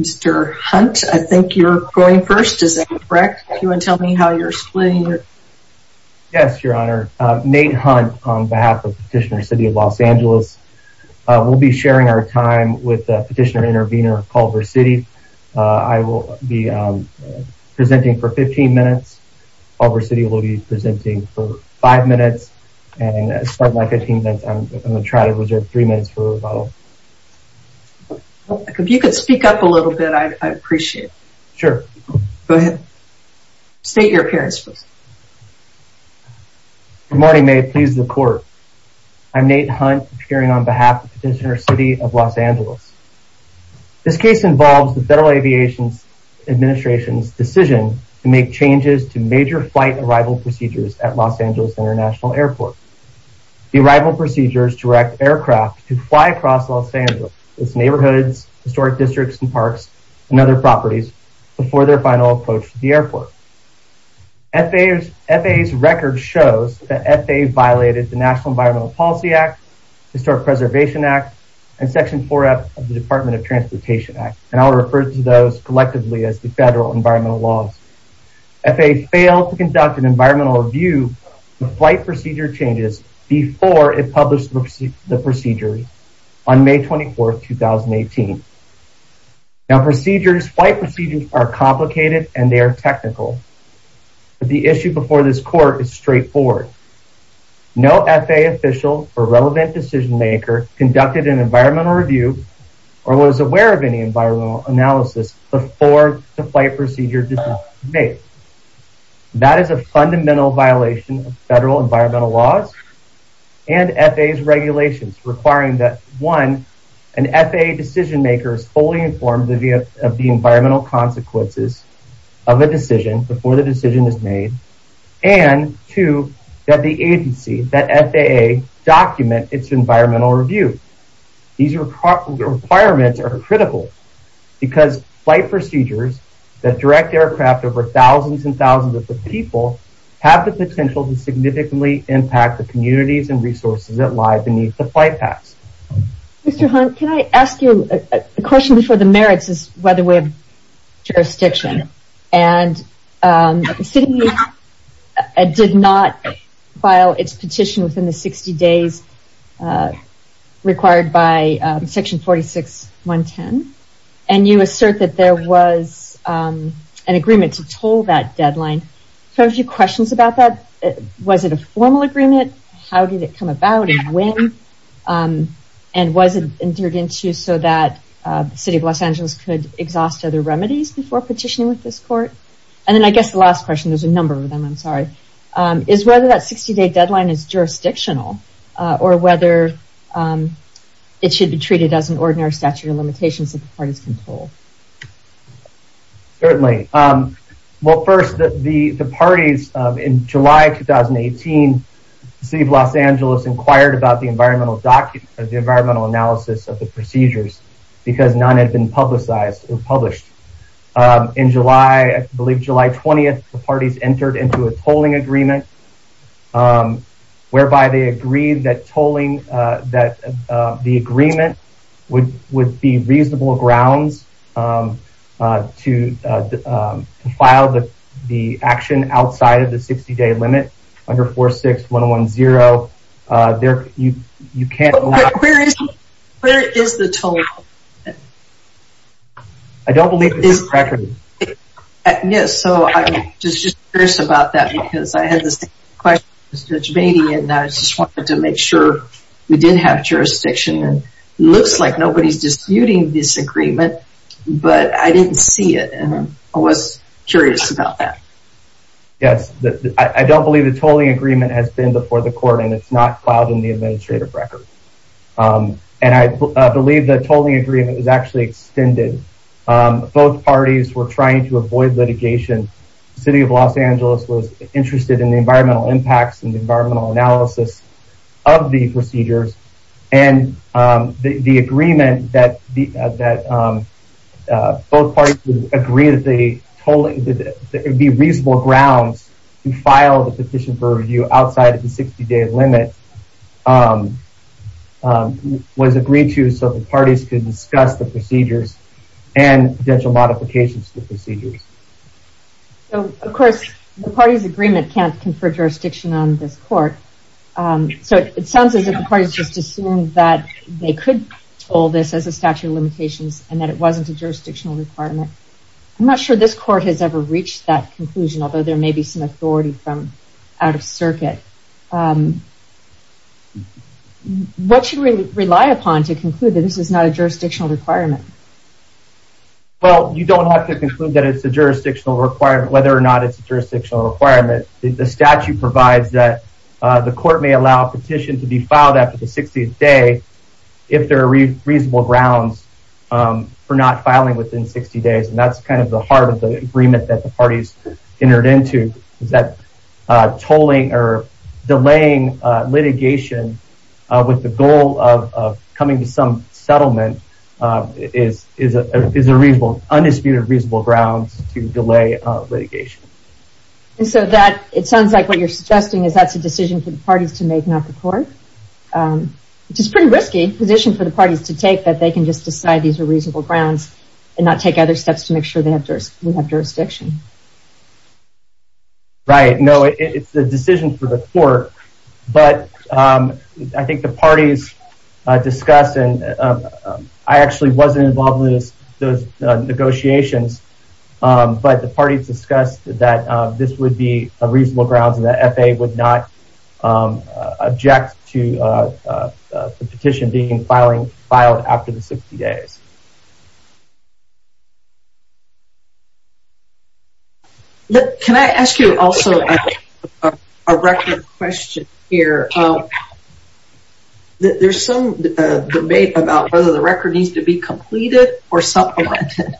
Mr. Hunt, I think you're going first. Is that correct? You want to tell me how you're splitting your... Yes, Your Honor. Nate Hunt on behalf of Petitioner City of Los Angeles. We'll be sharing our time with Petitioner Intervenor Culver City. I will be presenting for 15 minutes Culver City will be presenting for five minutes and as part of my containment, I'm going to try to reserve three minutes for rebuttal. If you could speak up a little bit, I'd appreciate it. Sure. Go ahead. State your appearance please. Good morning, may it please the court. I'm Nate Hunt appearing on behalf of Petitioner City of Los Angeles. This case involves the Federal Aviation Administration's decision to make changes to major flight arrival procedures at Los Angeles International Airport. The arrival procedures direct aircraft to fly across Los Angeles, its neighborhoods, historic districts and parks, and other properties before their final approach to the airport. FAA's record shows that FAA violated the National Environmental Policy Act, Historic Preservation Act, and Section 4F of the Department of Transportation Act. And I'll refer to those collectively as the Federal Environmental Laws. FAA failed to conduct an environmental review of flight procedure changes before it published the procedure on May 24th, 2018. Now procedures, flight procedures are complicated and they are technical. But the issue before this court is straightforward. No FAA official or relevant decision maker conducted an environmental review or was aware of any environmental analysis before the flight procedure was made. That is a fundamental violation of Federal Environmental Laws and FAA's regulations requiring that one, an FAA decision maker is fully informed of the environmental consequences of a decision before the decision is made. And two, that the agency, that FAA, document its environmental review. These requirements are critical because flight procedures that direct aircraft over thousands and thousands of people have the potential to significantly impact the communities and resources that lie beneath the flight paths. Mr. Hunt, can I ask you a question before the merits is by the way of jurisdiction. And the city did not file its petition within the 60 days required by section 46.110. And you assert that there was an agreement to toll that deadline. I have a few questions about that. Was it a formal agreement? How did it come about and when? And was it entered into so that the city of Los Angeles, there's a number of them, I'm sorry. Is whether that 60 day deadline is jurisdictional or whether it should be treated as an ordinary statute of limitations that the parties can toll? Certainly. Well, first, the parties in July 2018, the city of Los Angeles inquired about the environmental document or the environmental analysis of the procedures because none had been entered into a tolling agreement whereby they agreed that tolling that the agreement would be reasonable grounds to file the action outside of the 60 day limit under 46.110. You can't. Where is the tolling agreement? I don't believe it's in the record. Yes, so I'm just curious about that because I had the same question as Judge Beatty and I just wanted to make sure we did have jurisdiction and it looks like nobody's disputing this agreement, but I didn't see it and I was curious about that. Yes, I don't believe the tolling agreement has been before the court and it's not filed in the administrative record and I believe the tolling agreement is actually extended. Both parties were trying to avoid litigation. The city of Los Angeles was interested in the environmental impacts and the environmental analysis of the procedures and the agreement that both parties would agree that the tolling would be reasonable grounds to file the petition for review outside of the 60 day limit was agreed to so the parties could discuss the procedures and potential modifications to the procedures. Of course, the parties agreement can't confer jurisdiction on this court so it sounds as if the parties just assumed that they could toll this as a statute of limitations and that it wasn't a jurisdictional requirement. I'm not sure this court has ever reached that conclusion although there may be some authority from out of circuit. What should we rely upon to conclude that this is not a jurisdictional requirement? Well, you don't have to conclude that it's a jurisdictional requirement whether or not it's a jurisdictional requirement. The statute provides that the court may allow petition to be filed after the 60th day if there are reasonable grounds for not filing within 60 days and that's kind of the heart of the agreement that the parties entered into is that tolling or delaying litigation with the goal of coming to some settlement is a reasonable, undisputed reasonable grounds to delay litigation. And so that it sounds like what you're suggesting is a decision for the parties to make not the court which is pretty risky position for the parties to take that they can just decide these are reasonable grounds and not take other steps to make sure they have jurisdiction. Right, no, it's the decision for the court but I think the parties discussed and I actually wasn't involved in those negotiations but the parties discussed that this would be a reasonable grounds and the FA would not object to the petition being filing filed after the 60 days. Can I ask you also a record question here? There's some debate about whether the record needs to be completed or supplemented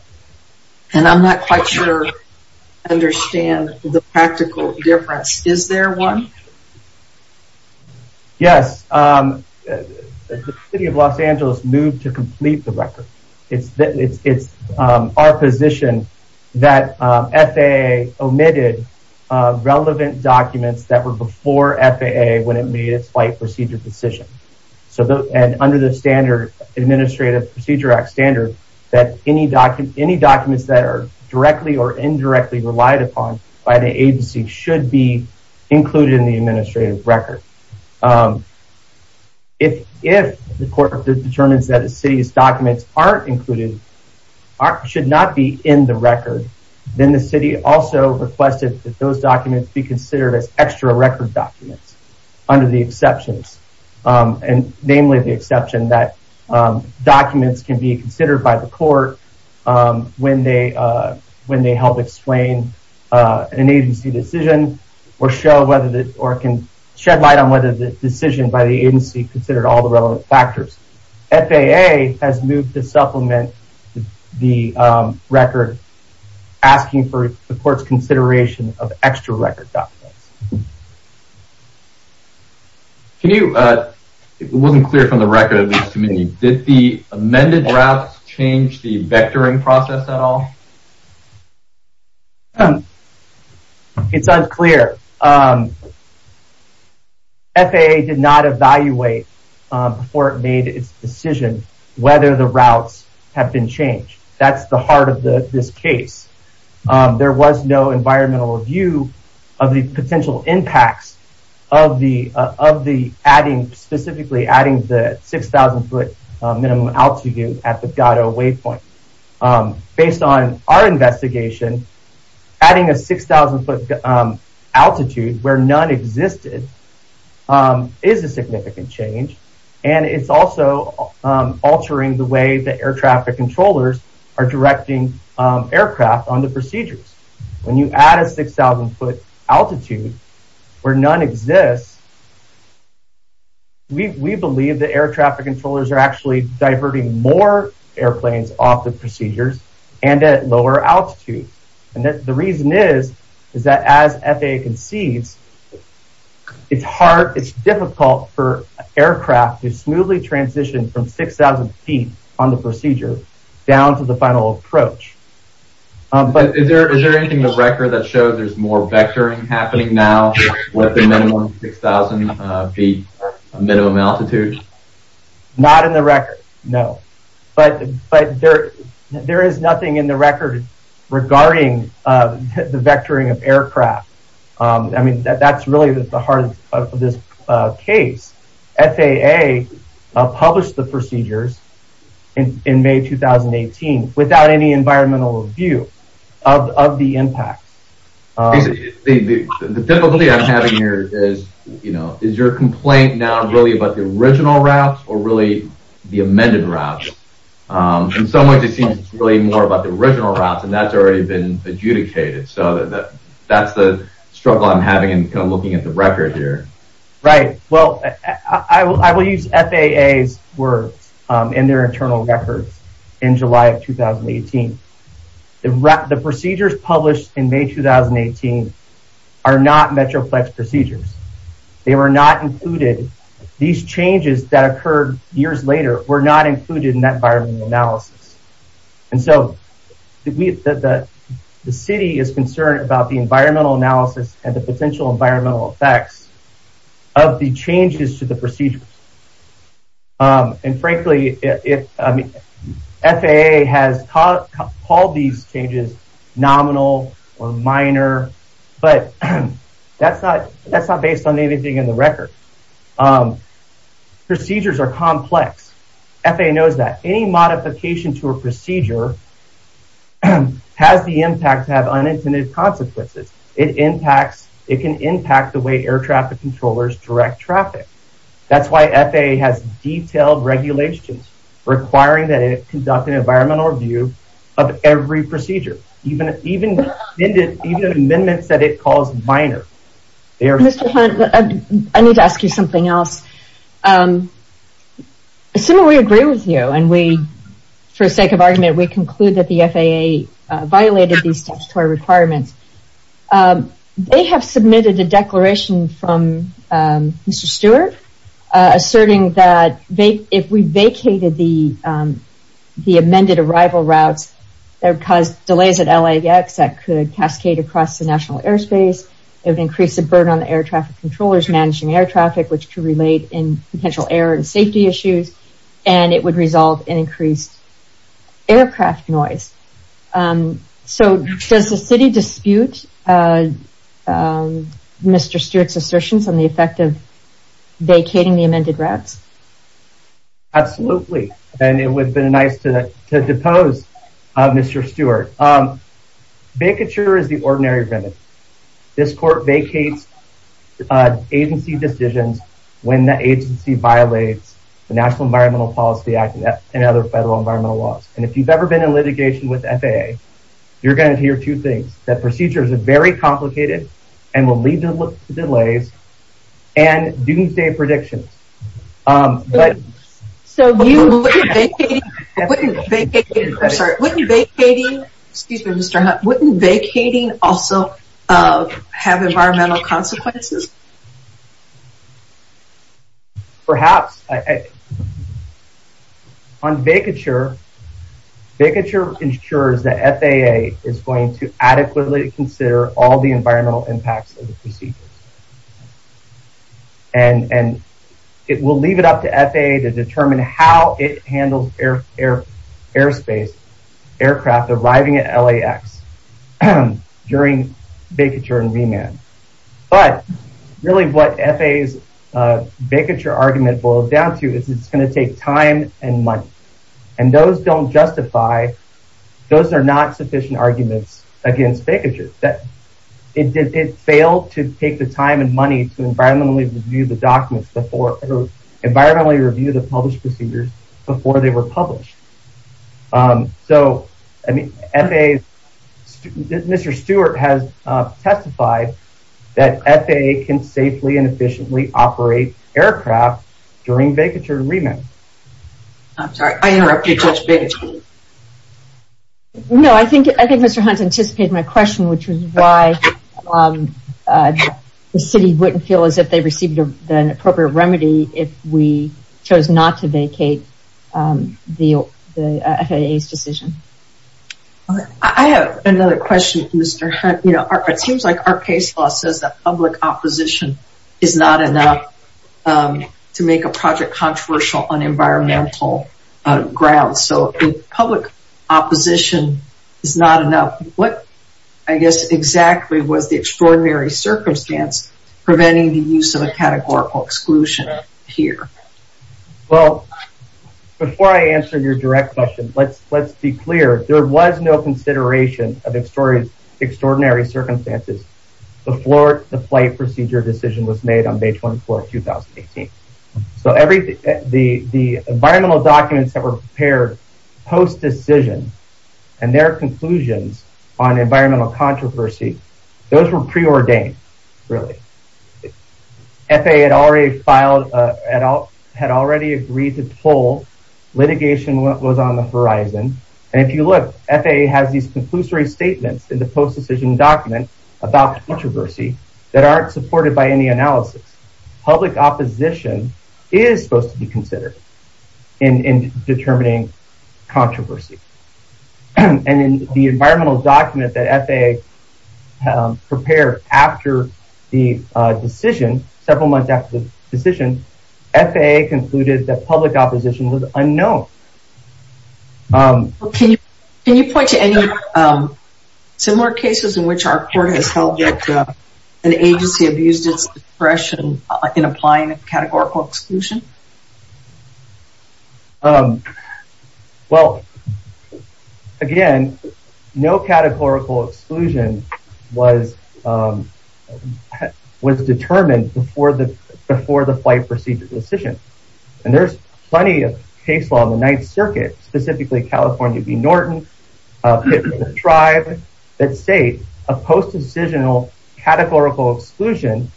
and I'm not quite sure I understand the practical difference. Is there one? Yes, the city of Los Angeles moved to complete the record. It's our position that FAA omitted relevant documents that were before FAA when it made its fight procedure decision. So under the standard administrative procedure act standard that any documents that are directly or indirectly relied upon by the agency should be included in the administrative record. If the court determines that the city's documents aren't included, should not be in the record, then the city also requested that those documents be considered as extra record documents under the exceptions and namely the exception that documents can be considered by the court when they help explain an agency decision or can shed light on whether the decision by the agency considered all the relevant factors. FAA has moved to supplement the record asking for the court's consideration of extra record documents. It wasn't clear from the record did the amended routes change the vectoring process at all? It's unclear. FAA did not evaluate before it made its decision whether the routes have been changed. That's the heart of the this case. There was no environmental review of the potential impacts of the of the adding specifically adding the 6,000 foot minimum altitude at the gato waypoint. Based on our investigation adding a 6,000 foot altitude where none existed is a significant change and it's also altering the way the air traffic controllers are directing aircraft on procedures. When you add a 6,000 foot altitude where none exists, we believe the air traffic controllers are actually diverting more airplanes off the procedures and at lower altitudes and the reason is is that as FAA concedes it's hard it's difficult for aircraft to smoothly transition from 6,000 feet on the procedure down to the final approach. Is there anything in the record that shows there's more vectoring happening now with the minimum 6,000 feet minimum altitude? Not in the record no but but there there is nothing in the record regarding the vectoring aircraft. I mean that that's really the heart of this case. FAA published the procedures in May 2018 without any environmental review of the impacts. The difficulty I'm having here is you know is your complaint now really about the original routes or really the amended routes? In some ways it seems it's really more about the original routes and that's already been adjudicated so that that's the struggle I'm having and kind of looking at the record here. Right well I will use FAA's words in their internal records in July of 2018. The procedures published in May 2018 are not Metroplex procedures. They were not included. These changes that occurred years later were not included in that environmental analysis and so the city is concerned about the environmental analysis and the potential environmental effects of the changes to the procedures and frankly it I mean FAA has called these changes nominal or minor but that's not that's not based on anything in the record. Procedures are complex. FAA knows that any modification to a procedure has the impact to have unintended consequences. It impacts it can impact the way air traffic controllers direct traffic. That's why FAA has detailed regulations requiring that it conduct an environmental review of every procedure even even even amendments that it calls minor. Mr. Hunt I need to ask you something else. Assuming we agree with you and we for sake of argument we conclude that the FAA violated these statutory requirements. They have submitted a declaration from Mr. Stewart asserting that if we vacated the amended arrival routes that would cause delays at LAX that could increase the burden on the air traffic controllers managing air traffic which could relate in potential air and safety issues and it would resolve an increased aircraft noise. So does the city dispute Mr. Stewart's assertions on the effect of vacating the amended routes? Absolutely and it would have been nice to depose Mr. Stewart. Vacature is the ordinary remedy. This court vacates agency decisions when the agency violates the National Environmental Policy Act and other federal environmental laws and if you've ever been in litigation with FAA you're going to hear two things. That procedures are very complicated and will lead to delays and doomsday predictions. So wouldn't vacating also have environmental consequences? Perhaps. On vacature, vacature ensures that FAA is going to adequately consider all the environmental impacts of the procedures and it will leave it up to FAA to determine how it handles airspace aircraft arriving at LAX during vacature and remand. But really what FAA's vacature argument boils down to is it's going to take time and money and those don't justify, those are not sufficient arguments against vacature. It failed to take the time and money to environmentally review the documents before, environmentally review the published procedures before they were published. So I mean FAA, Mr. Stewart has testified that FAA can safely and efficiently operate aircraft during vacature and remand. I'm sorry I interrupted you. No, I think Mr. Hunt anticipated my question which is why the city wouldn't feel as if they received an appropriate remedy if we chose not to vacate the FAA's decision. I have another question Mr. Hunt. It seems like our case law says that public opposition is not enough to make a project controversial on environmental grounds. So if public opposition is not enough, what I guess exactly was the extraordinary circumstance preventing the use of a categorical exclusion here? Well before I answer your direct question, let's be clear. There was no consideration of extraordinary circumstances before the flight procedure decision was made on May 24, 2018. So everything, the environmental documents that were prepared post-decision and their conclusions on environmental controversy, those were pre-ordained really. FAA had already filed, had already agreed to pull. Litigation was on the horizon and if you look, FAA has these conclusory statements in the post-decision document about controversy that aren't supported by any analysis. Public opposition is supposed to be considered in determining controversy. And in the environmental document that FAA prepared after the decision, several months after the decision, FAA concluded that public opposition was unknown. Can you point to any similar cases in which our court has held that an agency abused its discretion in applying a categorical exclusion? Well again, no categorical exclusion was determined before the flight procedure decision. And there's plenty of case law in the Ninth Circuit, specifically California v. Norton, Tribe, that state a post-decisional categorical exclusion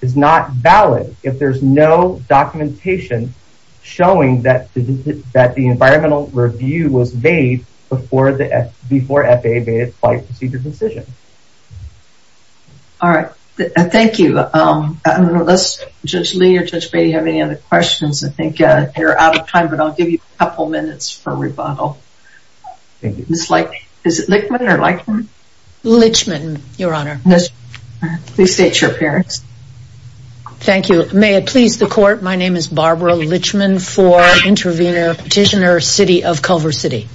is not valid if there's no documentation showing that the environmental review was made before FAA made a flight procedure decision. All right, thank you. I don't know if Judge Lee or Judge Beatty have any other questions. I think they're out of time, but I'll give you a couple minutes for rebuttal. Thank you. Is it Lichman or Lichman? Lichman, Your Honor. Yes. Please state your appearance. Thank you. May it please the court, my name is Barbara Lichman for intervener petitioner, of Culver City.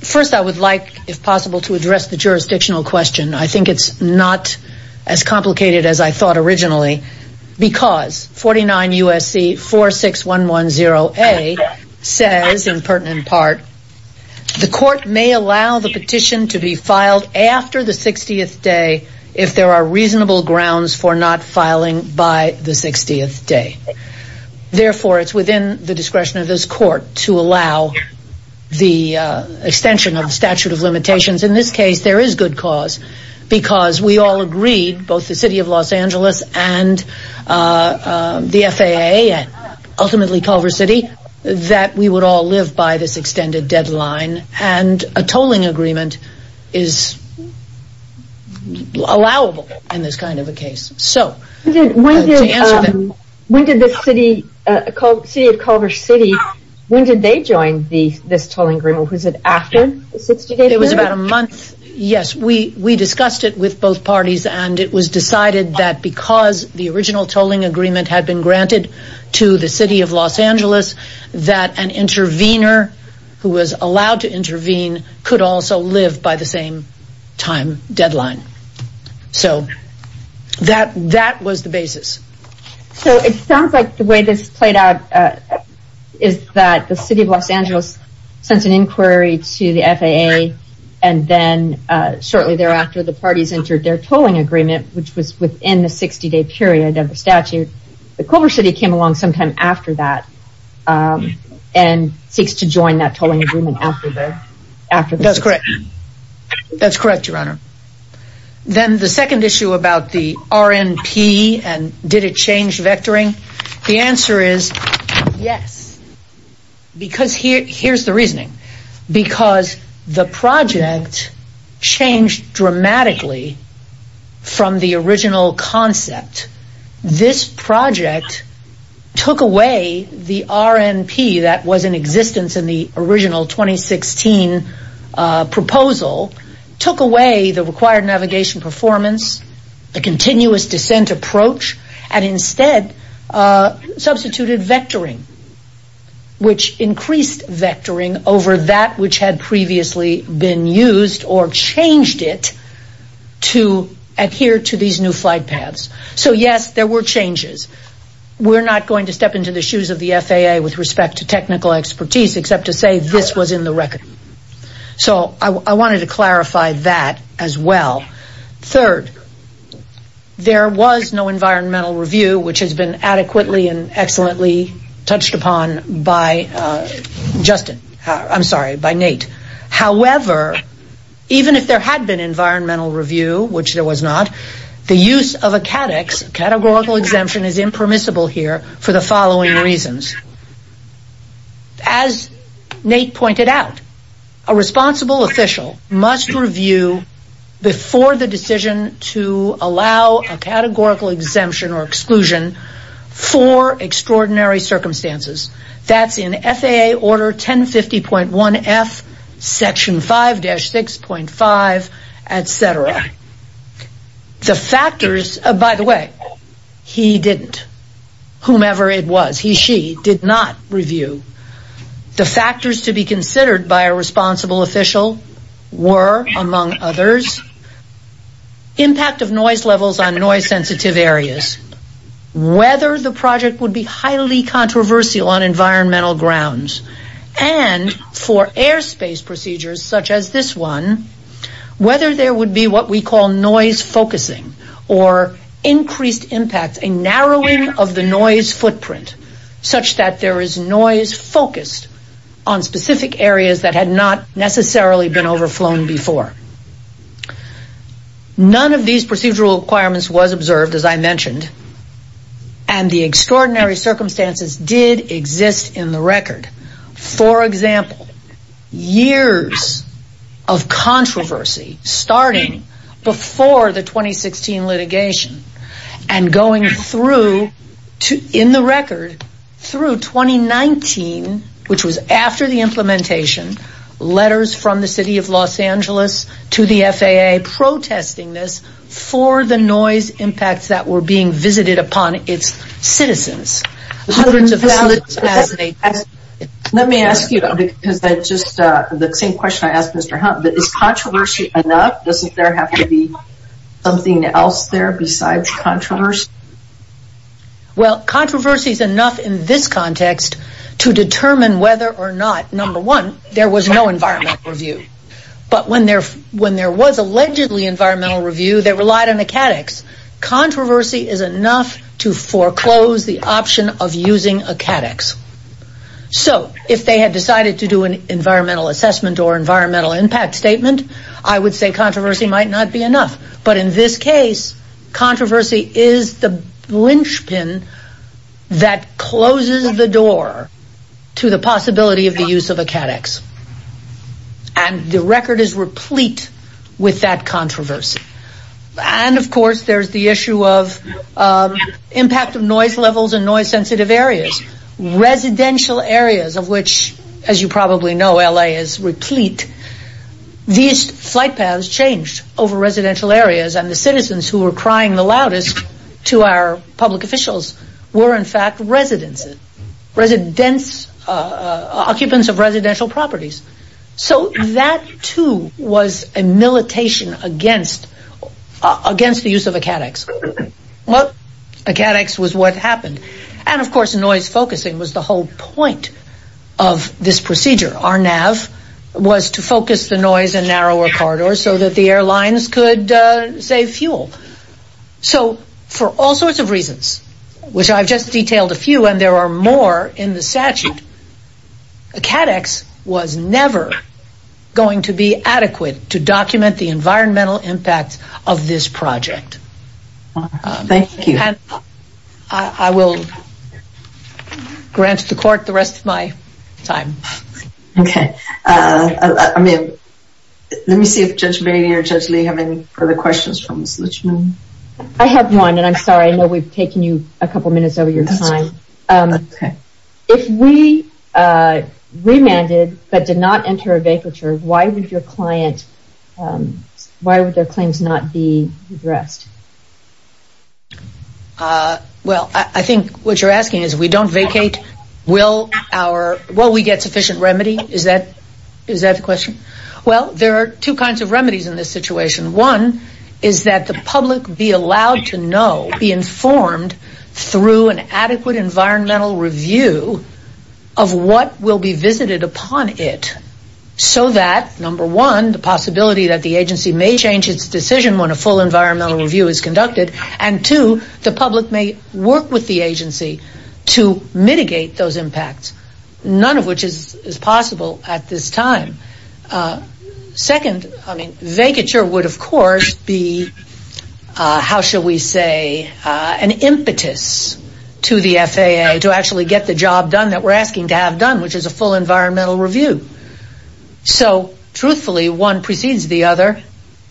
First, I would like, if possible, to address the jurisdictional question. I think it's not as complicated as I thought originally, because 49 USC 46110A says, in pertinent part, the court may allow the petition to be filed after the 60th day if there are reasonable grounds for not filing by the 60th day. Therefore, it's within the discretion of this court to allow the extension of statute of limitations. In this case, there is good cause, because we all agreed, both the city of Los Angeles and the FAA and ultimately Culver City, that we would all live by this extended deadline and a tolling agreement is not allowable in this kind of a case. When did the city of Culver City, when did they join this tolling agreement? Was it after? It was about a month. Yes, we discussed it with both parties and it was decided that because the original tolling agreement had been granted to the city of Los Angeles, that an intervener who was allowed to intervene could also live by the same time deadline. So, that was the basis. So, it sounds like the way this played out is that the city of Los Angeles sent an inquiry to the FAA and then shortly thereafter, the parties entered their tolling agreement, which was within the 60 day period of the statute. The Culver City came along sometime after that and seeks to join that tolling agreement after that. That's correct. That's correct, your honor. Then the second issue about the RNP and did it change vectoring? The answer is yes, because here's the reasoning, because the project changed dramatically from the original concept. This project took away the RNP that was in existence in the original 2016 proposal, took away the required navigation performance, the continuous descent approach, and instead substituted vectoring, which increased vectoring over that which had previously been used or changed it to adhere to these new flight paths. So, yes, there were changes. We're not going to step into the shoes of the FAA with respect to technical expertise except to say this was in the record. So, I wanted to clarify that as well. Third, there was no environmental review, which has been adequately and excellently touched upon by Justin, I'm sorry, by Nate. However, even if there had been environmental review, which there was not, the use of a catechs, categorical exemption is impermissible here for the following reasons. As Nate pointed out, a responsible official must review before the decision to allow a categorical exemption or exclusion for extraordinary circumstances. That's in FAA order 1050.1F, section 5-6.5, et cetera. The factors, by the way, he didn't, whomever it was, he, she did not review. The factors to be considered by a responsible official were, among others, impact of noise levels on noise sensitive areas, whether the project would be highly controversial on environmental grounds, and for airspace procedures such as this one, whether there would be what we call noise focusing or increased impact, a narrowing of the noise footprint such that there is noise focused on specific areas that had not necessarily been overflown before. None of these procedural requirements was observed, as I mentioned, and the extraordinary circumstances did exist in the record. For example, years of controversy starting before the 2016 litigation and going through, in the record, through 2019, which was after the implementation, letters from the City of Los Angeles to the FAA protesting this for the noise impacts that were being visited upon its citizens. Let me ask you, the same question I asked Mr. Hunt, is controversy enough? Doesn't there have to be something else there besides controversy? Well, controversy is enough in this context to determine whether or not, number one, there was no environmental review, but when there was allegedly environmental review, they relied on a CADEX. Controversy is enough to foreclose the option of using a CADEX. So, if they had decided to do an environmental assessment or environmental impact statement, I would say controversy might not be enough. But in this case, controversy is the linchpin that closes the door to the possibility of the use of a CADEX. And the record is replete with that controversy. And of course, there's the issue of impact of noise levels and noise sensitive areas. Residential areas of which, as you probably know, is replete. These flight paths changed over residential areas and the citizens who were crying the loudest to our public officials were in fact residents, occupants of residential properties. So, that too was a militation against the use of a CADEX. Well, a CADEX was what to focus the noise in narrower corridors so that the airlines could save fuel. So, for all sorts of reasons, which I've just detailed a few and there are more in the statute, a CADEX was never going to be adequate to document the environmental impact of this project. Thank you. I will grant the court the rest of my time. Okay. I mean, let me see if Judge Brady or Judge Lee have any further questions. I have one and I'm sorry. I know we've taken you a couple minutes over your time. If we remanded but did not enter a vacature, why would your client, why would their claims not be addressed? Well, I think what you're asking is we don't vacate. Will our, will we get sufficient remedy? Is that the question? Well, there are two kinds of remedies in this situation. One is that the public be allowed to know, be informed through an adequate environmental review of what will be visited upon it so that, number one, the possibility that the agency may change its decision when a full environmental review is conducted and, two, the public may work with the agency to mitigate those impacts, none of which is possible at this time. Second, I mean, vacature would, of course, be, how shall we say, an impetus to the FAA to actually get the job done that we're asking to have done, which is a full environmental review. So, truthfully, one precedes the other,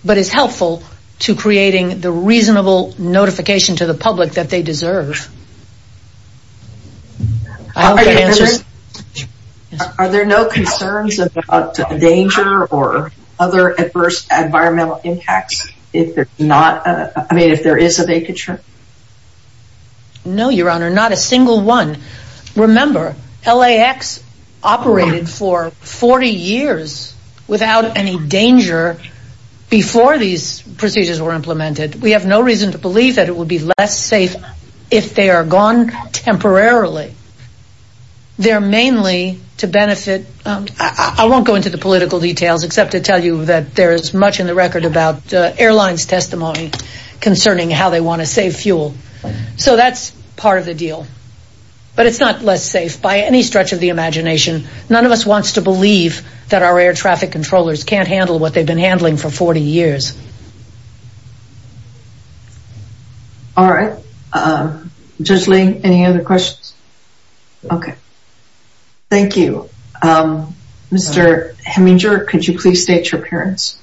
but is helpful to creating the reasonable notification to the public that they deserve. Are there no concerns about danger or other adverse environmental impacts if there's not, I mean, if there is a vacature? No, your honor, not a single one. Remember, LAX operated for 40 years without any danger before these procedures were implemented. We have no reason to believe that it would be less safe if they are gone temporarily. They're mainly to benefit, I won't go into the political details except to tell you that there is much in the record about airlines testimony concerning how they want to save fuel. So, that's part of the deal, but it's not less safe by any stretch of the imagination. None of us wants to believe that our air traffic controllers can't handle what they've been handling for 40 years. All right. Judge Ling, any other questions? Okay. Thank you. Mr. Heminger, could you please state your appearance?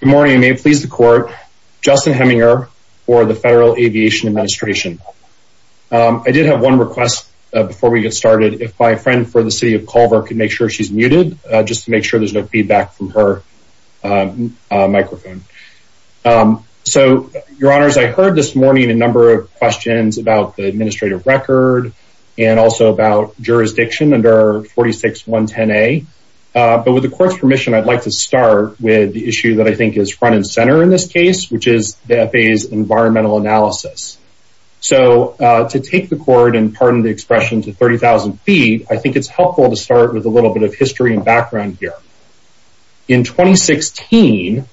Good morning. May it please the court, Justin Heminger for the Federal Aviation Administration. I did have one request before we get started. If my friend for the City of Culver could make sure she's muted, just to make sure there's no feedback from her microphone. So, your honors, I heard this morning a number of questions about the administrative record and also about jurisdiction under 46.110a. But with the court's permission, I'd like to start with the issue that I think is front and center in this case, which is the FAA's environmental analysis. So, to take the court and pardon the expression to 30,000 feet, I think it's helpful to start with a little bit of history and background here. In 2016,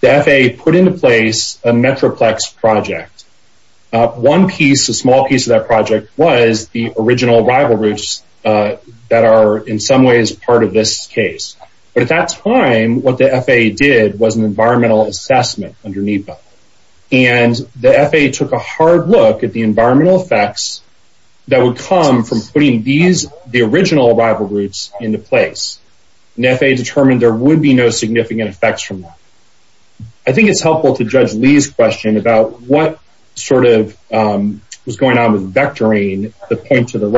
the FAA put into place a Metroplex project. One piece, a small piece of that project was the original rival routes that are in some ways part of this case. But at that time, what the FAA did was an environmental assessment under NEPA. And the FAA took a hard look at the environmental effects that would come from putting these, the original rival routes into place. And the FAA determined there would be no significant effects from that. I think it's helpful to judge Lee's question about what sort of was going on with vectoring the point to the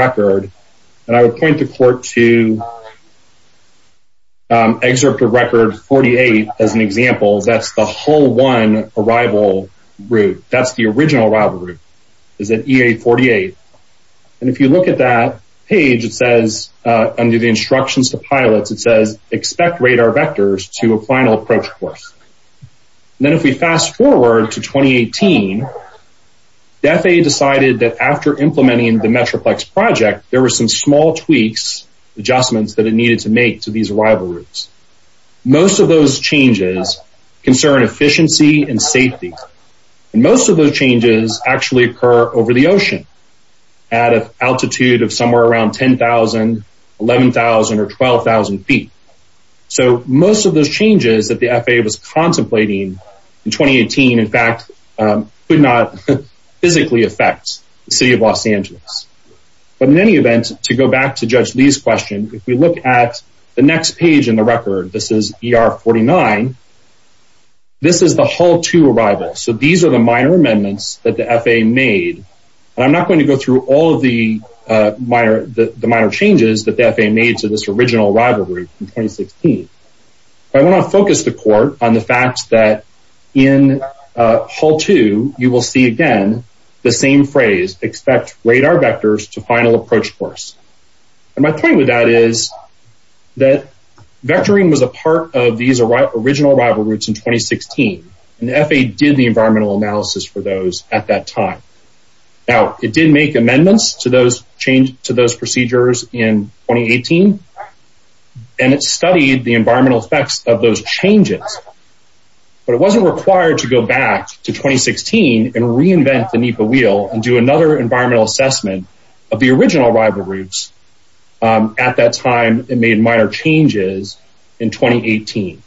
48. As an example, that's the whole one arrival route. That's the original rival route is that EA 48. And if you look at that page, it says under the instructions to pilots, it says expect radar vectors to a final approach course. Then if we fast forward to 2018, the FAA decided that after implementing the Metroplex project, there were some small tweaks, adjustments that it needed to make to these rival routes. Most of those changes concern efficiency and safety. And most of those changes actually occur over the ocean at an altitude of somewhere around 10,000, 11,000 or 12,000 feet. So most of those changes that the FAA was contemplating in 2018, in fact, could not physically affect the city of Los Angeles. But in any event, to go back to Judge Lee's question, if we look at the next page in the record, this is ER 49. This is the whole two arrivals. So these are the minor amendments that the FAA made. And I'm not going to go through all of the minor changes that the FAA made to this original rivalry in 2016. But I want to focus the court on the fact that in Hull two, you will see again, the same phrase expect radar vectors to final approach course. And my point with that is that vectoring was a part of these original rival routes in 2016. And the FAA did the environmental analysis for those at that time. Now, it did make amendments to those change to those procedures in 2018. And it studied the environmental effects of those changes. But it wasn't required to go back to 2016 and reinvent the NEPA wheel and do another environmental assessment of the original rival routes. At that time, it made minor changes in 2018.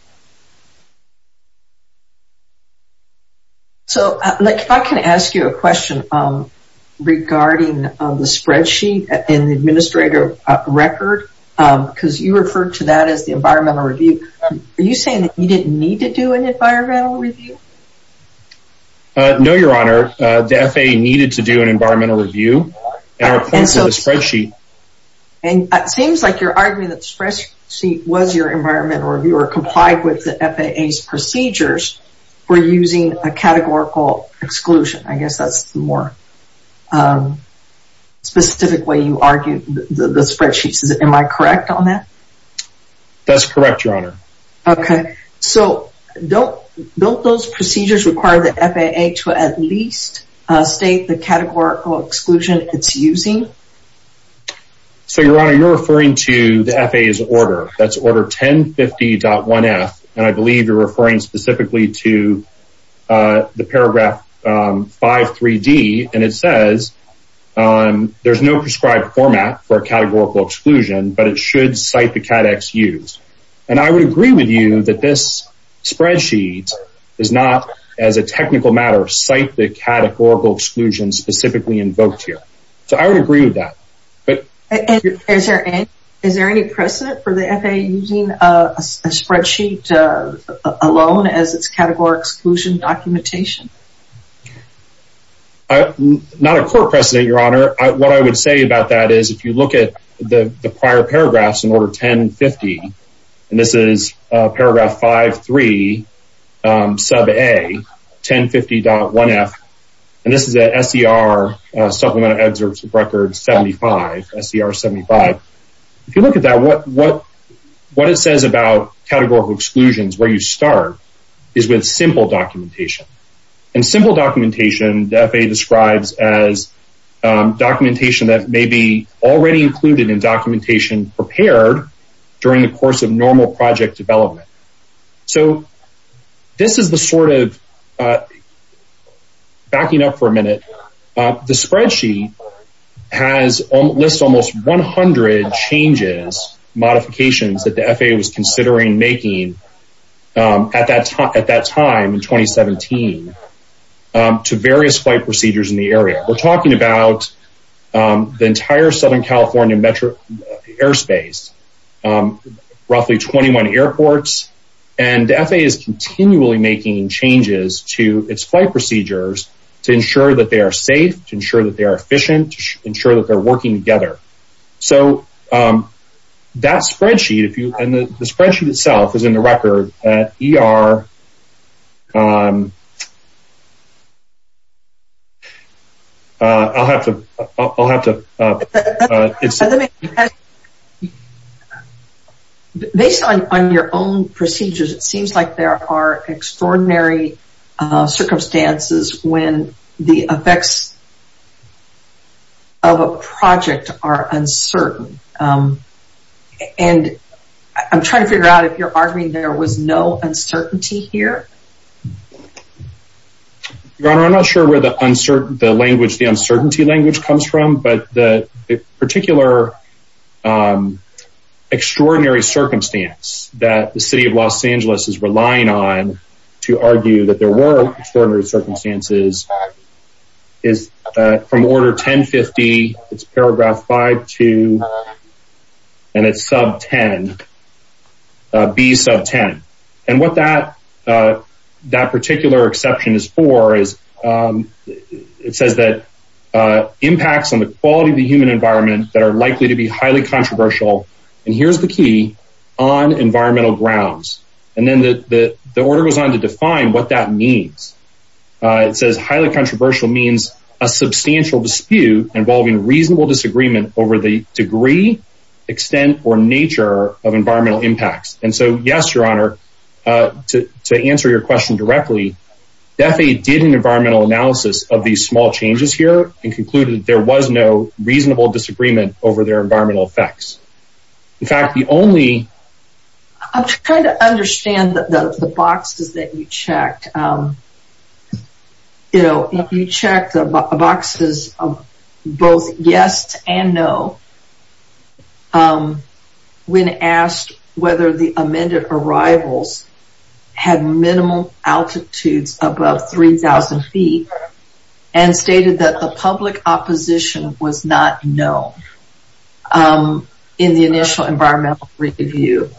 So, like, if I can ask you a question regarding the spreadsheet in the administrative record, because you referred to that as the environmental review. Are you saying that you didn't need to do an environmental review? No, Your Honor, the FAA needed to do an environmental review. And it seems like you're arguing that the spreadsheet was your environmental review or complied with the FAA's procedures for using a categorical exclusion. I guess that's the more specific way you argue the spreadsheets. Am I correct on that? That's correct, Your Honor. Okay, so don't those procedures require the FAA to at least state the categorical exclusion it's using? So, Your Honor, you're referring to the FAA's order. That's order 1050.1f. And I believe you're referring specifically to the paragraph 5.3d. And it says there's no prescribed format for a categorical exclusion, but it should cite the CADEX used. And I would agree with you that this spreadsheet does not, as a technical matter, cite the categorical exclusion specifically invoked here. So, I would agree with that. Is there any precedent for the FAA using a spreadsheet alone as its categorical exclusion documentation? Not a core precedent, Your Honor. What I would say about that is if you look at the prior paragraphs in order 1050, and this is paragraph 5.3, sub a, 1050.1f, and this is at SCR supplemental excerpts record 75, SCR 75. If you look at that, what it says about categorical exclusions, where you start, is with simple documentation. And simple documentation the FAA describes as documentation that may be already included in documentation prepared during the course of normal project development. So, this is the sort of, backing up for a minute, the spreadsheet has, lists almost 100 changes, modifications that the FAA was considering making at that time, at that time in 2017, to various flight procedures in the area. We're talking about the entire Southern California metro airspace, roughly 21 airports, and the FAA is continually making changes to its flight procedures to ensure that they are safe, to ensure that they are efficient, to ensure that they're working together. So, that spreadsheet, if you, and the spreadsheet itself is in the record, er, I'll have to, I'll have to, based on your own procedures, it seems like there are extraordinary circumstances when the effects of a project are uncertain. And I'm trying to figure out if you're arguing there was no uncertainty here? Your Honor, I'm not sure where the uncertain, the language, the uncertainty language comes from, but the particular extraordinary circumstance that the City of Los Angeles is relying on to argue that there were extraordinary B sub 10. And what that, that particular exception is for is, it says that, impacts on the quality of the human environment that are likely to be highly controversial, and here's the key, on environmental grounds. And then the order goes on to define what that means. It says highly controversial means a substantial dispute involving reasonable disagreement over the degree, extent, or nature of environmental impacts. And so, yes, Your Honor, to answer your question directly, the FAA did an environmental analysis of these small changes here and concluded that there was no reasonable disagreement over their environmental effects. In fact, the only... I'm trying to understand the boxes that you checked. You know, if you check the boxes of both yes and no. When asked whether the amended arrivals had minimal altitudes above 3,000 feet and stated that the public opposition was not known in the initial environmental review.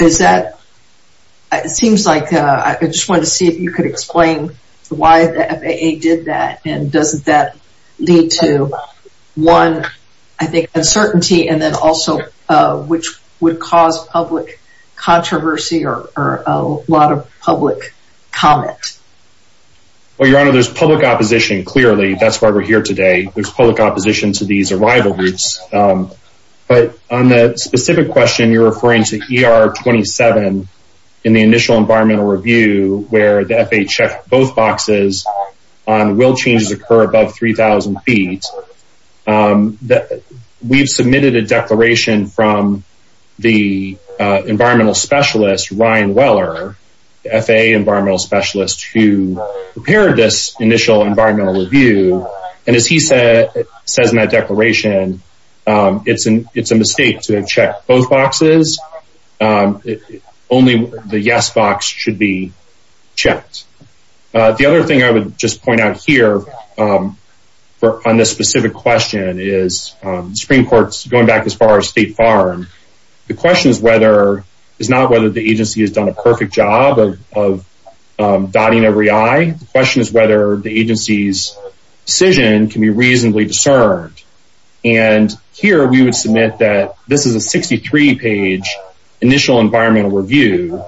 Is that, it seems like, I just wanted to see if you could explain why the FAA did that and doesn't that lead to one, I think, uncertainty and then also, which would cause public controversy or a lot of public comment? Well, Your Honor, there's public opposition, clearly. That's why we're here today. There's public opposition to these arrival routes. But on the specific question, you're referring to ER27 in the initial environmental review where the FAA checked both boxes on will changes occur above 3,000 feet. We've submitted a declaration from the environmental specialist, Ryan Weller, the FAA environmental specialist who prepared this initial environmental review. And as he says in that declaration, it's a mistake to have checked both boxes. Only the yes box should be checked. The other thing I would just point out here on this specific question is Supreme Court's going back as far as State Farm. The question is whether, it's not whether the agency has done a perfect job of dotting every I, the question is whether the agency's decision can be reasonably discerned. And here we would submit that this is a 63 page initial environmental review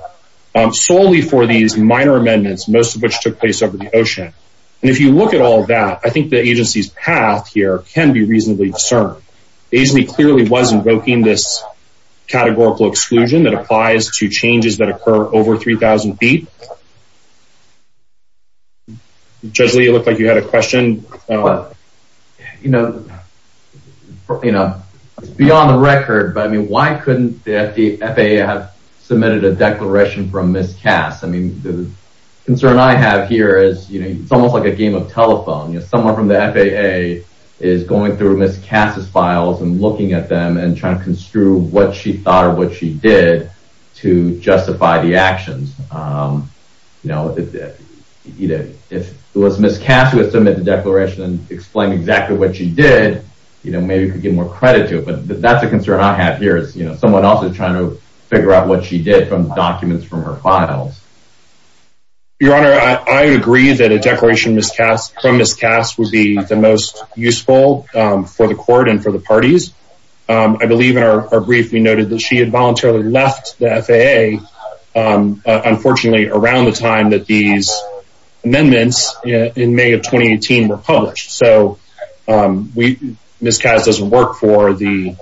solely for these minor amendments, most of which took place over the ocean. And if you look at all that, I think the agency's path here can be reasonably discerned. The agency clearly was invoking this categorical exclusion that applies to changes that occur over 3,000 feet. Judge Lee, it looked like you had a question. You know, you know, it's beyond the record, but I mean, why couldn't the FAA have submitted a declaration from Ms. Cass? I mean, the concern I have here is, you know, it's almost like a game of telephone. You know, someone from the FAA is going through Ms. Cass's files and looking at them and trying to construe what she thought or what she did to justify the actions. You know, either if it was Ms. Cass who had submitted the declaration and explained exactly what she did, you know, maybe we could get more credit to it. But that's a concern I have here is, you know, someone else is trying to figure out what she did from documents from her files. Your Honor, I agree that a declaration from Ms. Cass would be the most useful for the FAA. I believe in our brief, we noted that she had voluntarily left the FAA, unfortunately, around the time that these amendments in May of 2018 were published. So Ms. Cass doesn't work for the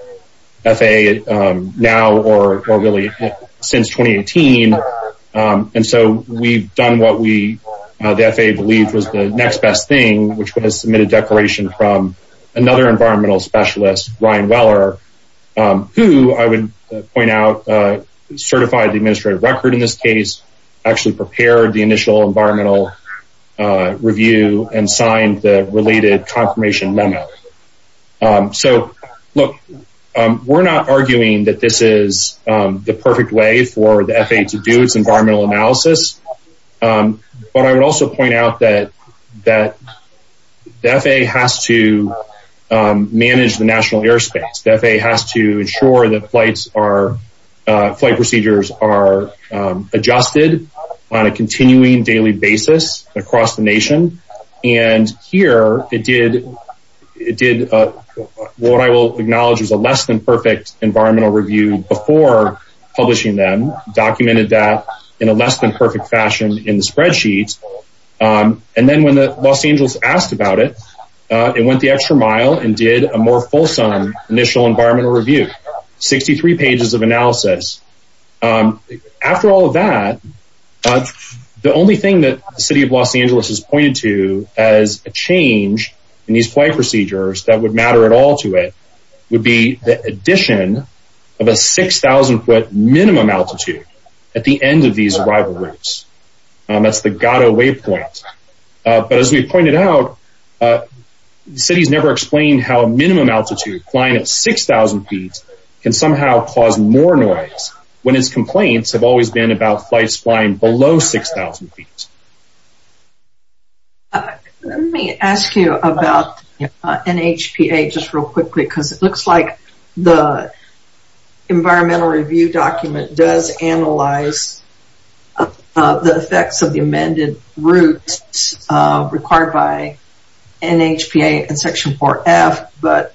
FAA now or really since 2018. And so we've done what we, the FAA believed was the next best thing, which was to submit a declaration from another environmental specialist, Ryan Weller, who I would point out, certified the administrative record in this case, actually prepared the initial environmental review and signed the related confirmation memo. So look, we're not arguing that this is the perfect way for the FAA. The FAA has to manage the national airspace. The FAA has to ensure that flights are, flight procedures are adjusted on a continuing daily basis across the nation. And here it did, it did what I will acknowledge as a less than perfect environmental review before publishing them, documented that in a less than perfect fashion in the spreadsheets. And then when the Los Angeles asked about it, it went the extra mile and did a more fulsome initial environmental review, 63 pages of analysis. After all of that, the only thing that the city of Los Angeles has pointed to as a change in these flight procedures that would matter at all to it would be the addition of a 6,000 foot minimum altitude at the end of these arrival routes. That's the point it out. The city's never explained how a minimum altitude flying at 6,000 feet can somehow cause more noise when his complaints have always been about flights flying below 6,000 feet. Let me ask you about NHPA just real quickly, because it looks like the NHPA and section 4F, but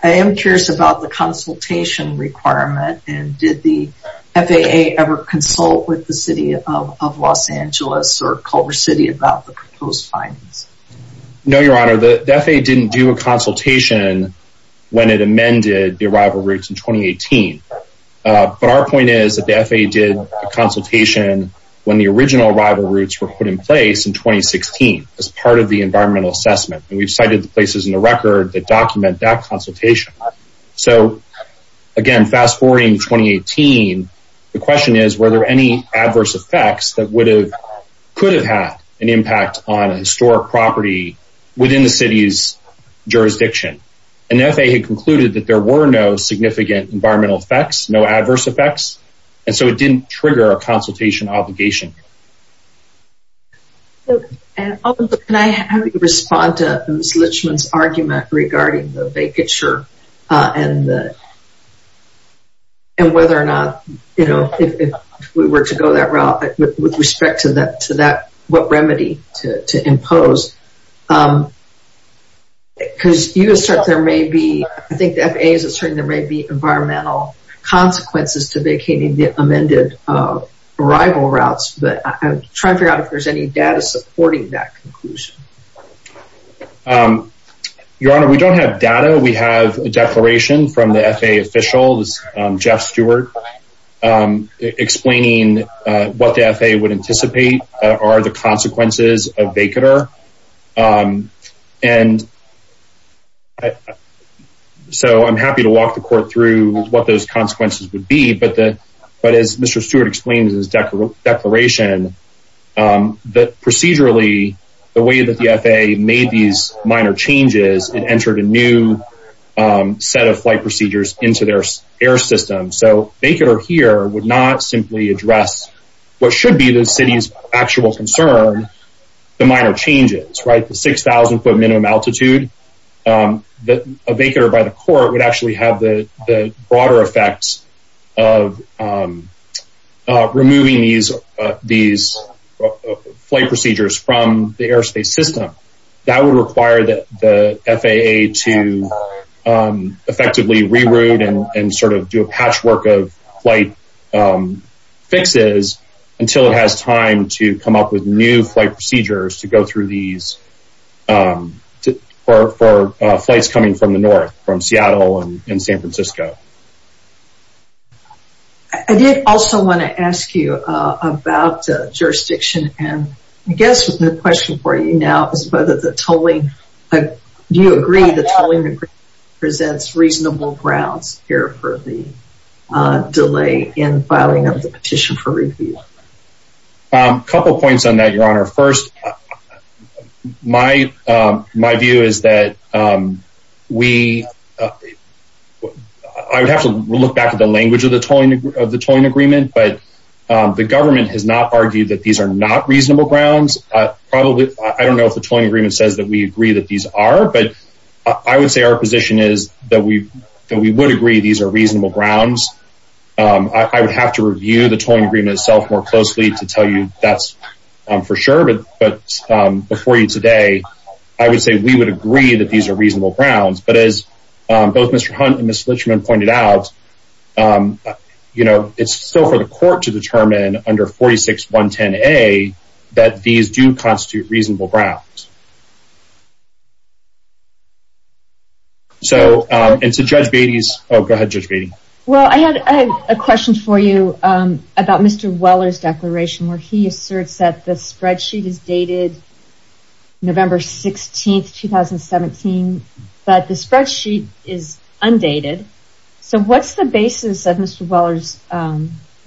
I am curious about the consultation requirement and did the FAA ever consult with the city of Los Angeles or Culver City about the proposed findings? No, your honor, the FAA didn't do a consultation when it amended the arrival routes in 2018. But our point is that the FAA did a consultation when the original arrival routes were put in place in 2016 as part of the environmental assessment, and we've cited the places in the record that document that consultation. So again, fast forwarding to 2018, the question is, were there any adverse effects that could have had an impact on a historic property within the city's jurisdiction? And the FAA had concluded that there were no significant environmental effects, no adverse effects, and so it didn't trigger a consultation obligation. And can I have you respond to Ms. Litchman's argument regarding the vacature and and whether or not, you know, if we were to go that route with respect to that, to that, what remedy to impose? Because you assert there may be, I think the FAA is asserting there may be environmental consequences to vacating the amended arrival routes, but I'm trying to figure out if there's any data supporting that conclusion. Your Honor, we don't have data. We have a declaration from the FAA official, Jeff Stewart, explaining what the FAA would anticipate are the consequences of vacater. And so I'm happy to walk the court through what those consequences would be, but as Mr. Stewart explains in his declaration, that procedurally, the way that the FAA made these minor changes, it entered a new set of flight procedures into their air system. So vacater here would not simply address what should be the city's actual concern, the minor changes, right? The 6,000 foot minimum altitude that a vacater by the court would actually have the broader effects of removing these flight procedures from the airspace system. That would require the FAA to effectively reroute and sort of do a patchwork of flight fixes until it has time to come up with new flight procedures to go through these for flights coming from the north, from Seattle and San Francisco. I did also want to ask you about jurisdiction and I guess the question for you now is whether the tolling, do you agree the tolling presents reasonable grounds here for the delay in filing of the petition for review? A couple points on that, Your Honor. First, my view is that we, I would have to look back at the language of the tolling agreement, but the government has not argued that these are not reasonable grounds. Probably, I don't know if the tolling agreement says that we agree that these are, but I would say our position is that we would agree these are reasonable grounds. I would have to review the tolling agreement itself more closely to tell you that's for sure, but before you today, I would say we would agree that these are reasonable grounds, but as both Mr. Hunt and Ms. Litchman pointed out, you know, it's still for the court to determine under 46.110a that these do constitute reasonable grounds. So, and to Judge Beatty's, oh go ahead, Judge Beatty. Well, I had a question for you about Mr. Weller's declaration where he asserts that the spreadsheet is dated November 16, 2017, but the spreadsheet is undated, so what's the basis of Mr. Weller's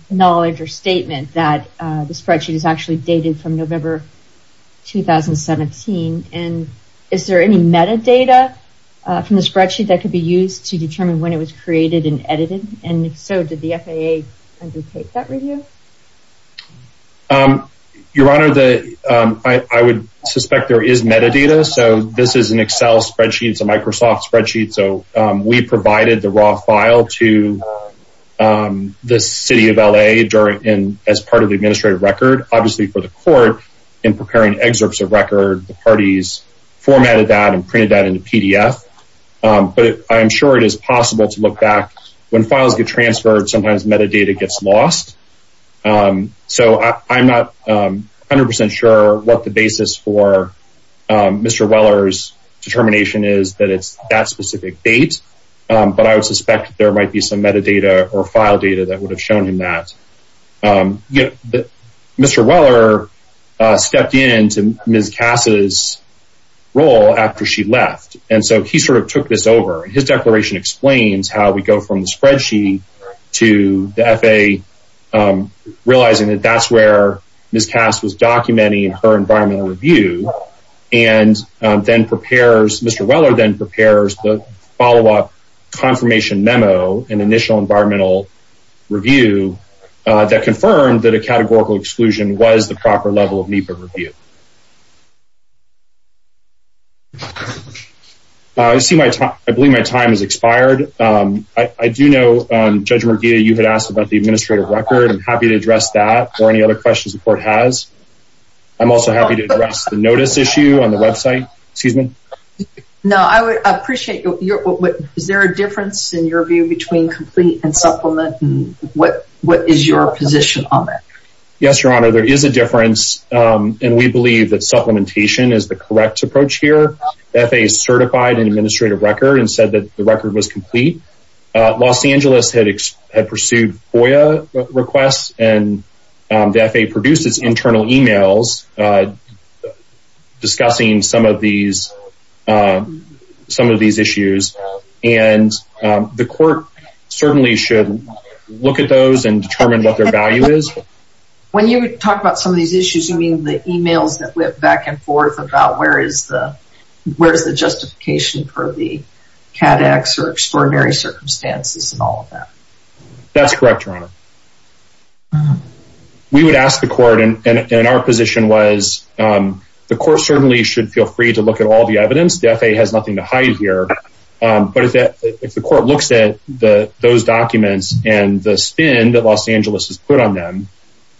knowledge or statement that the spreadsheet is actually dated from November 2017, and is there any metadata from the spreadsheet that could be used to determine when it was created and edited, and if so, did the FAA undertake that review? Your Honor, I would suspect there is metadata, so this is an Excel spreadsheet, it's a Microsoft spreadsheet, so we provided the raw file to the City of LA during, and as part of the administrative record, obviously for the court in preparing excerpts of record, the parties formatted that and printed that into PDF, but I'm sure it is possible to look back when files get transferred, sometimes metadata gets lost, so I'm not 100 percent sure what the basis for Mr. Weller's determination is that it's that specific date, but I would suspect there might be some metadata or file data that would have shown him that. Mr. Weller stepped into Ms. Cass's role after she left, and so he sort of took this over, and his declaration explains how we go from the spreadsheet to the FAA, realizing that that's where Ms. Cass was documenting her environmental review, and then prepares, Mr. Weller then prepares the follow-up confirmation memo, an initial environmental review that confirmed that a categorical exclusion was the proper level of NEPA review. I see my time, I believe my time has expired. I do know, Judge Merguia, you had asked about the administrative record. I'm happy to address that or any other questions the court has. I'm also happy to address the notice issue on the website. Excuse me? No, I would appreciate your, is there a difference in your view between complete and supplement, what is your position on that? Yes, Your Honor, there is a difference, and we believe that supplementation is the correct approach here. The FAA certified an administrative record and said that the record was complete. Los Angeles had pursued FOIA requests, and the FAA produced its internal emails discussing some of these, some of these issues, and the court certainly should look at those and determine what their value is. When you talk about some of these issues, you mean the emails that went back and forth about where is the, where's the justification for the CADEX or extraordinary circumstances and all of that? That's correct, Your Honor. We would ask the court, and our position was the court certainly should feel free to look at all the evidence. The FAA has nothing to hide here, but if the court looks at those documents and the spin that Los Angeles has put on them,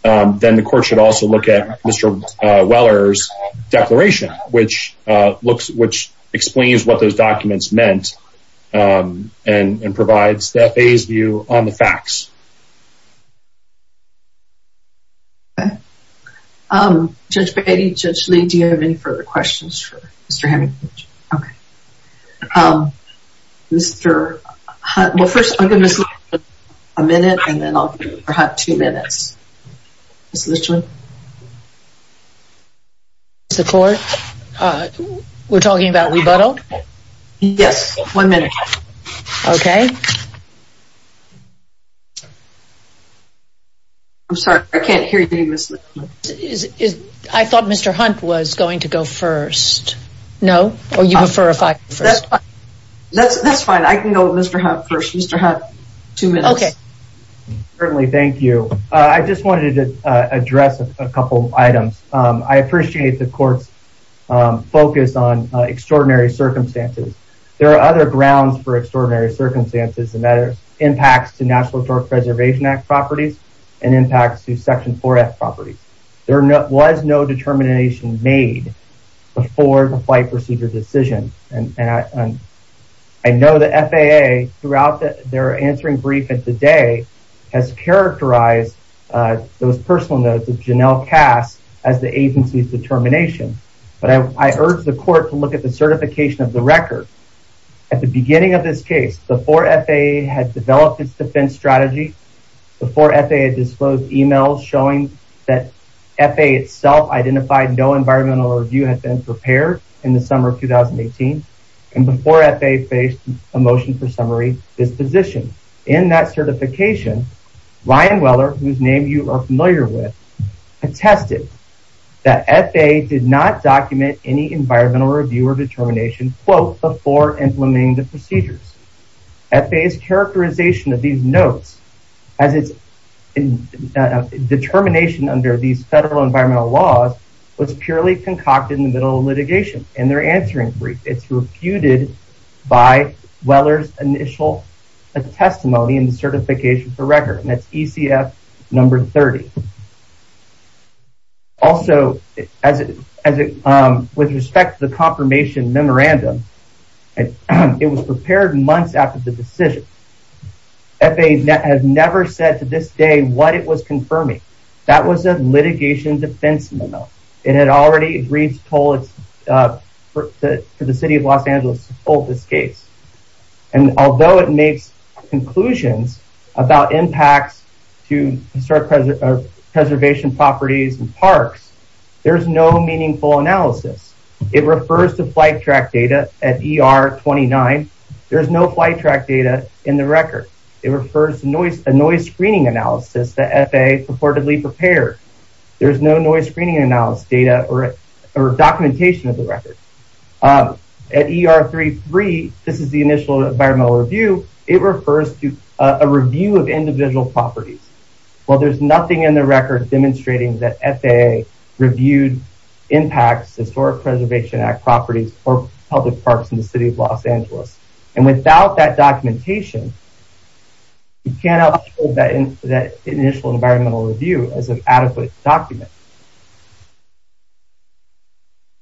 then the court should also look at Mr. Weller's declaration, which looks, which explains what those documents meant and provides the FAA's on the facts. Judge Beatty, Judge Lee, do you have any further questions for Mr. Hemmingbridge? Okay. Mr. Hunt, well first I'll give Ms. Litchman a minute, and then I'll give Mr. Hunt two minutes. Ms. Litchman? Ms. Litchman, is the court, we're talking about rebuttal? Yes, one minute. Okay. I'm sorry, I can't hear you Ms. Litchman. I thought Mr. Hunt was going to go first. No? Or you prefer if I go first? That's fine, I can go with Mr. Hunt first. Mr. Hunt, I just wanted to address a couple items. I appreciate the court's focus on extraordinary circumstances. There are other grounds for extraordinary circumstances and that are impacts to National Historic Preservation Act properties and impacts to Section 4F properties. There was no determination made before the flight procedure decision, and I know the FAA, throughout their answering brief and today, has characterized those personal notes of Janelle Cass as the agency's determination, but I urge the court to look at the certification of the record. At the beginning of this case, before FAA had developed its defense strategy, before FAA disclosed emails showing that FAA itself identified no environmental review had been prepared in the summer of 2018, and before FAA faced a motion for summary disposition. In that certification, Ryan Weller, whose name you are familiar with, attested that FAA did not document any environmental review or determination before implementing the procedures. FAA's characterization of these notes, as its determination under these federal environmental laws, was purely concocted in the middle of litigation. In their answering brief, it's refuted by Weller's initial testimony in the certification for record, and that's ECF number 30. Also, with respect to the confirmation memorandum, it was prepared months after the decision. FAA has never said to this day what it was confirming. That was a litigation defense memo. It had already agreed to toll for the city of Los Angeles to toll this case, and although it makes conclusions about impacts to historic preservation properties and parks, there's no meaningful analysis. It refers to flight track data at ER 29. There's no flight track data in the record. It refers to noise screening analysis that FAA purportedly prepared. There's no noise screening analysis data or documentation of the record. At ER 33, this is the initial environmental review. It refers to a review of individual properties. Well, there's nothing in the record demonstrating that FAA reviewed impacts, Historic Preservation Act properties, or public parks in the city of Los Angeles, and without that documentation, you cannot hold that initial environmental review as an adequate document.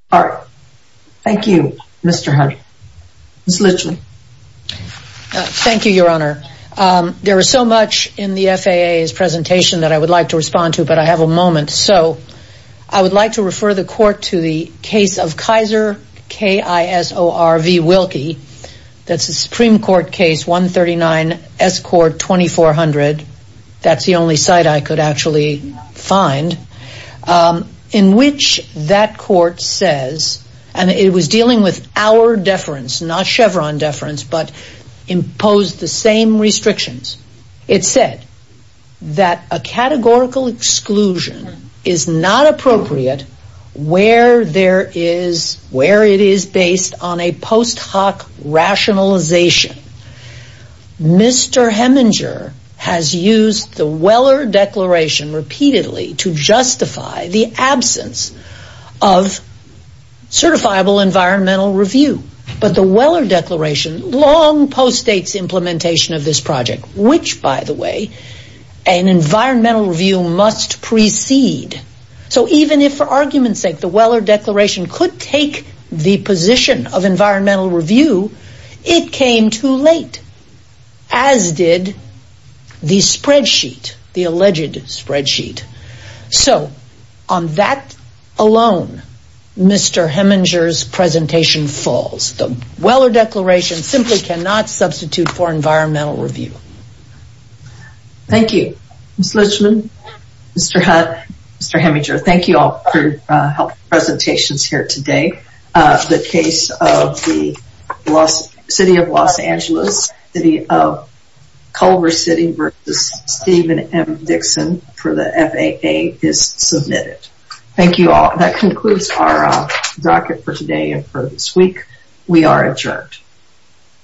Thank you, Mr. Hart. Ms. Litchley. Thank you, Your Honor. There is so much in the FAA's presentation that I would like to respond to, but I have a moment, so I would like to refer the court to the case of Kaiser, K-I-S-O-R-V, Wilkie. That's a Supreme Court case, 139, S Court, 2400. That's the only site I could actually find, in which that court says, and it was dealing with our deference, not Chevron deference, but imposed the same restrictions. It said that a categorical exclusion is not appropriate where there is, where it is based on a post hoc rationalization. Mr. Heminger has used the Weller Declaration repeatedly to justify the absence of certifiable environmental review, but the Weller Declaration long postdates implementation of this project, which, by the way, an environmental review must precede. So even if, for argument's sake, the Weller Declaration could take the position of environmental review, it came too late, as did the spreadsheet, the alleged spreadsheet. So on that alone, Mr. Heminger's presentation falls. The Weller Declaration simply cannot substitute for environmental review. Thank you, Ms. Litchman, Mr. Hunt, Mr. Heminger. Thank you all for your helpful presentations here today. The case of the FAA is submitted. Thank you all. That concludes our bracket for today and for this week. We are adjourned.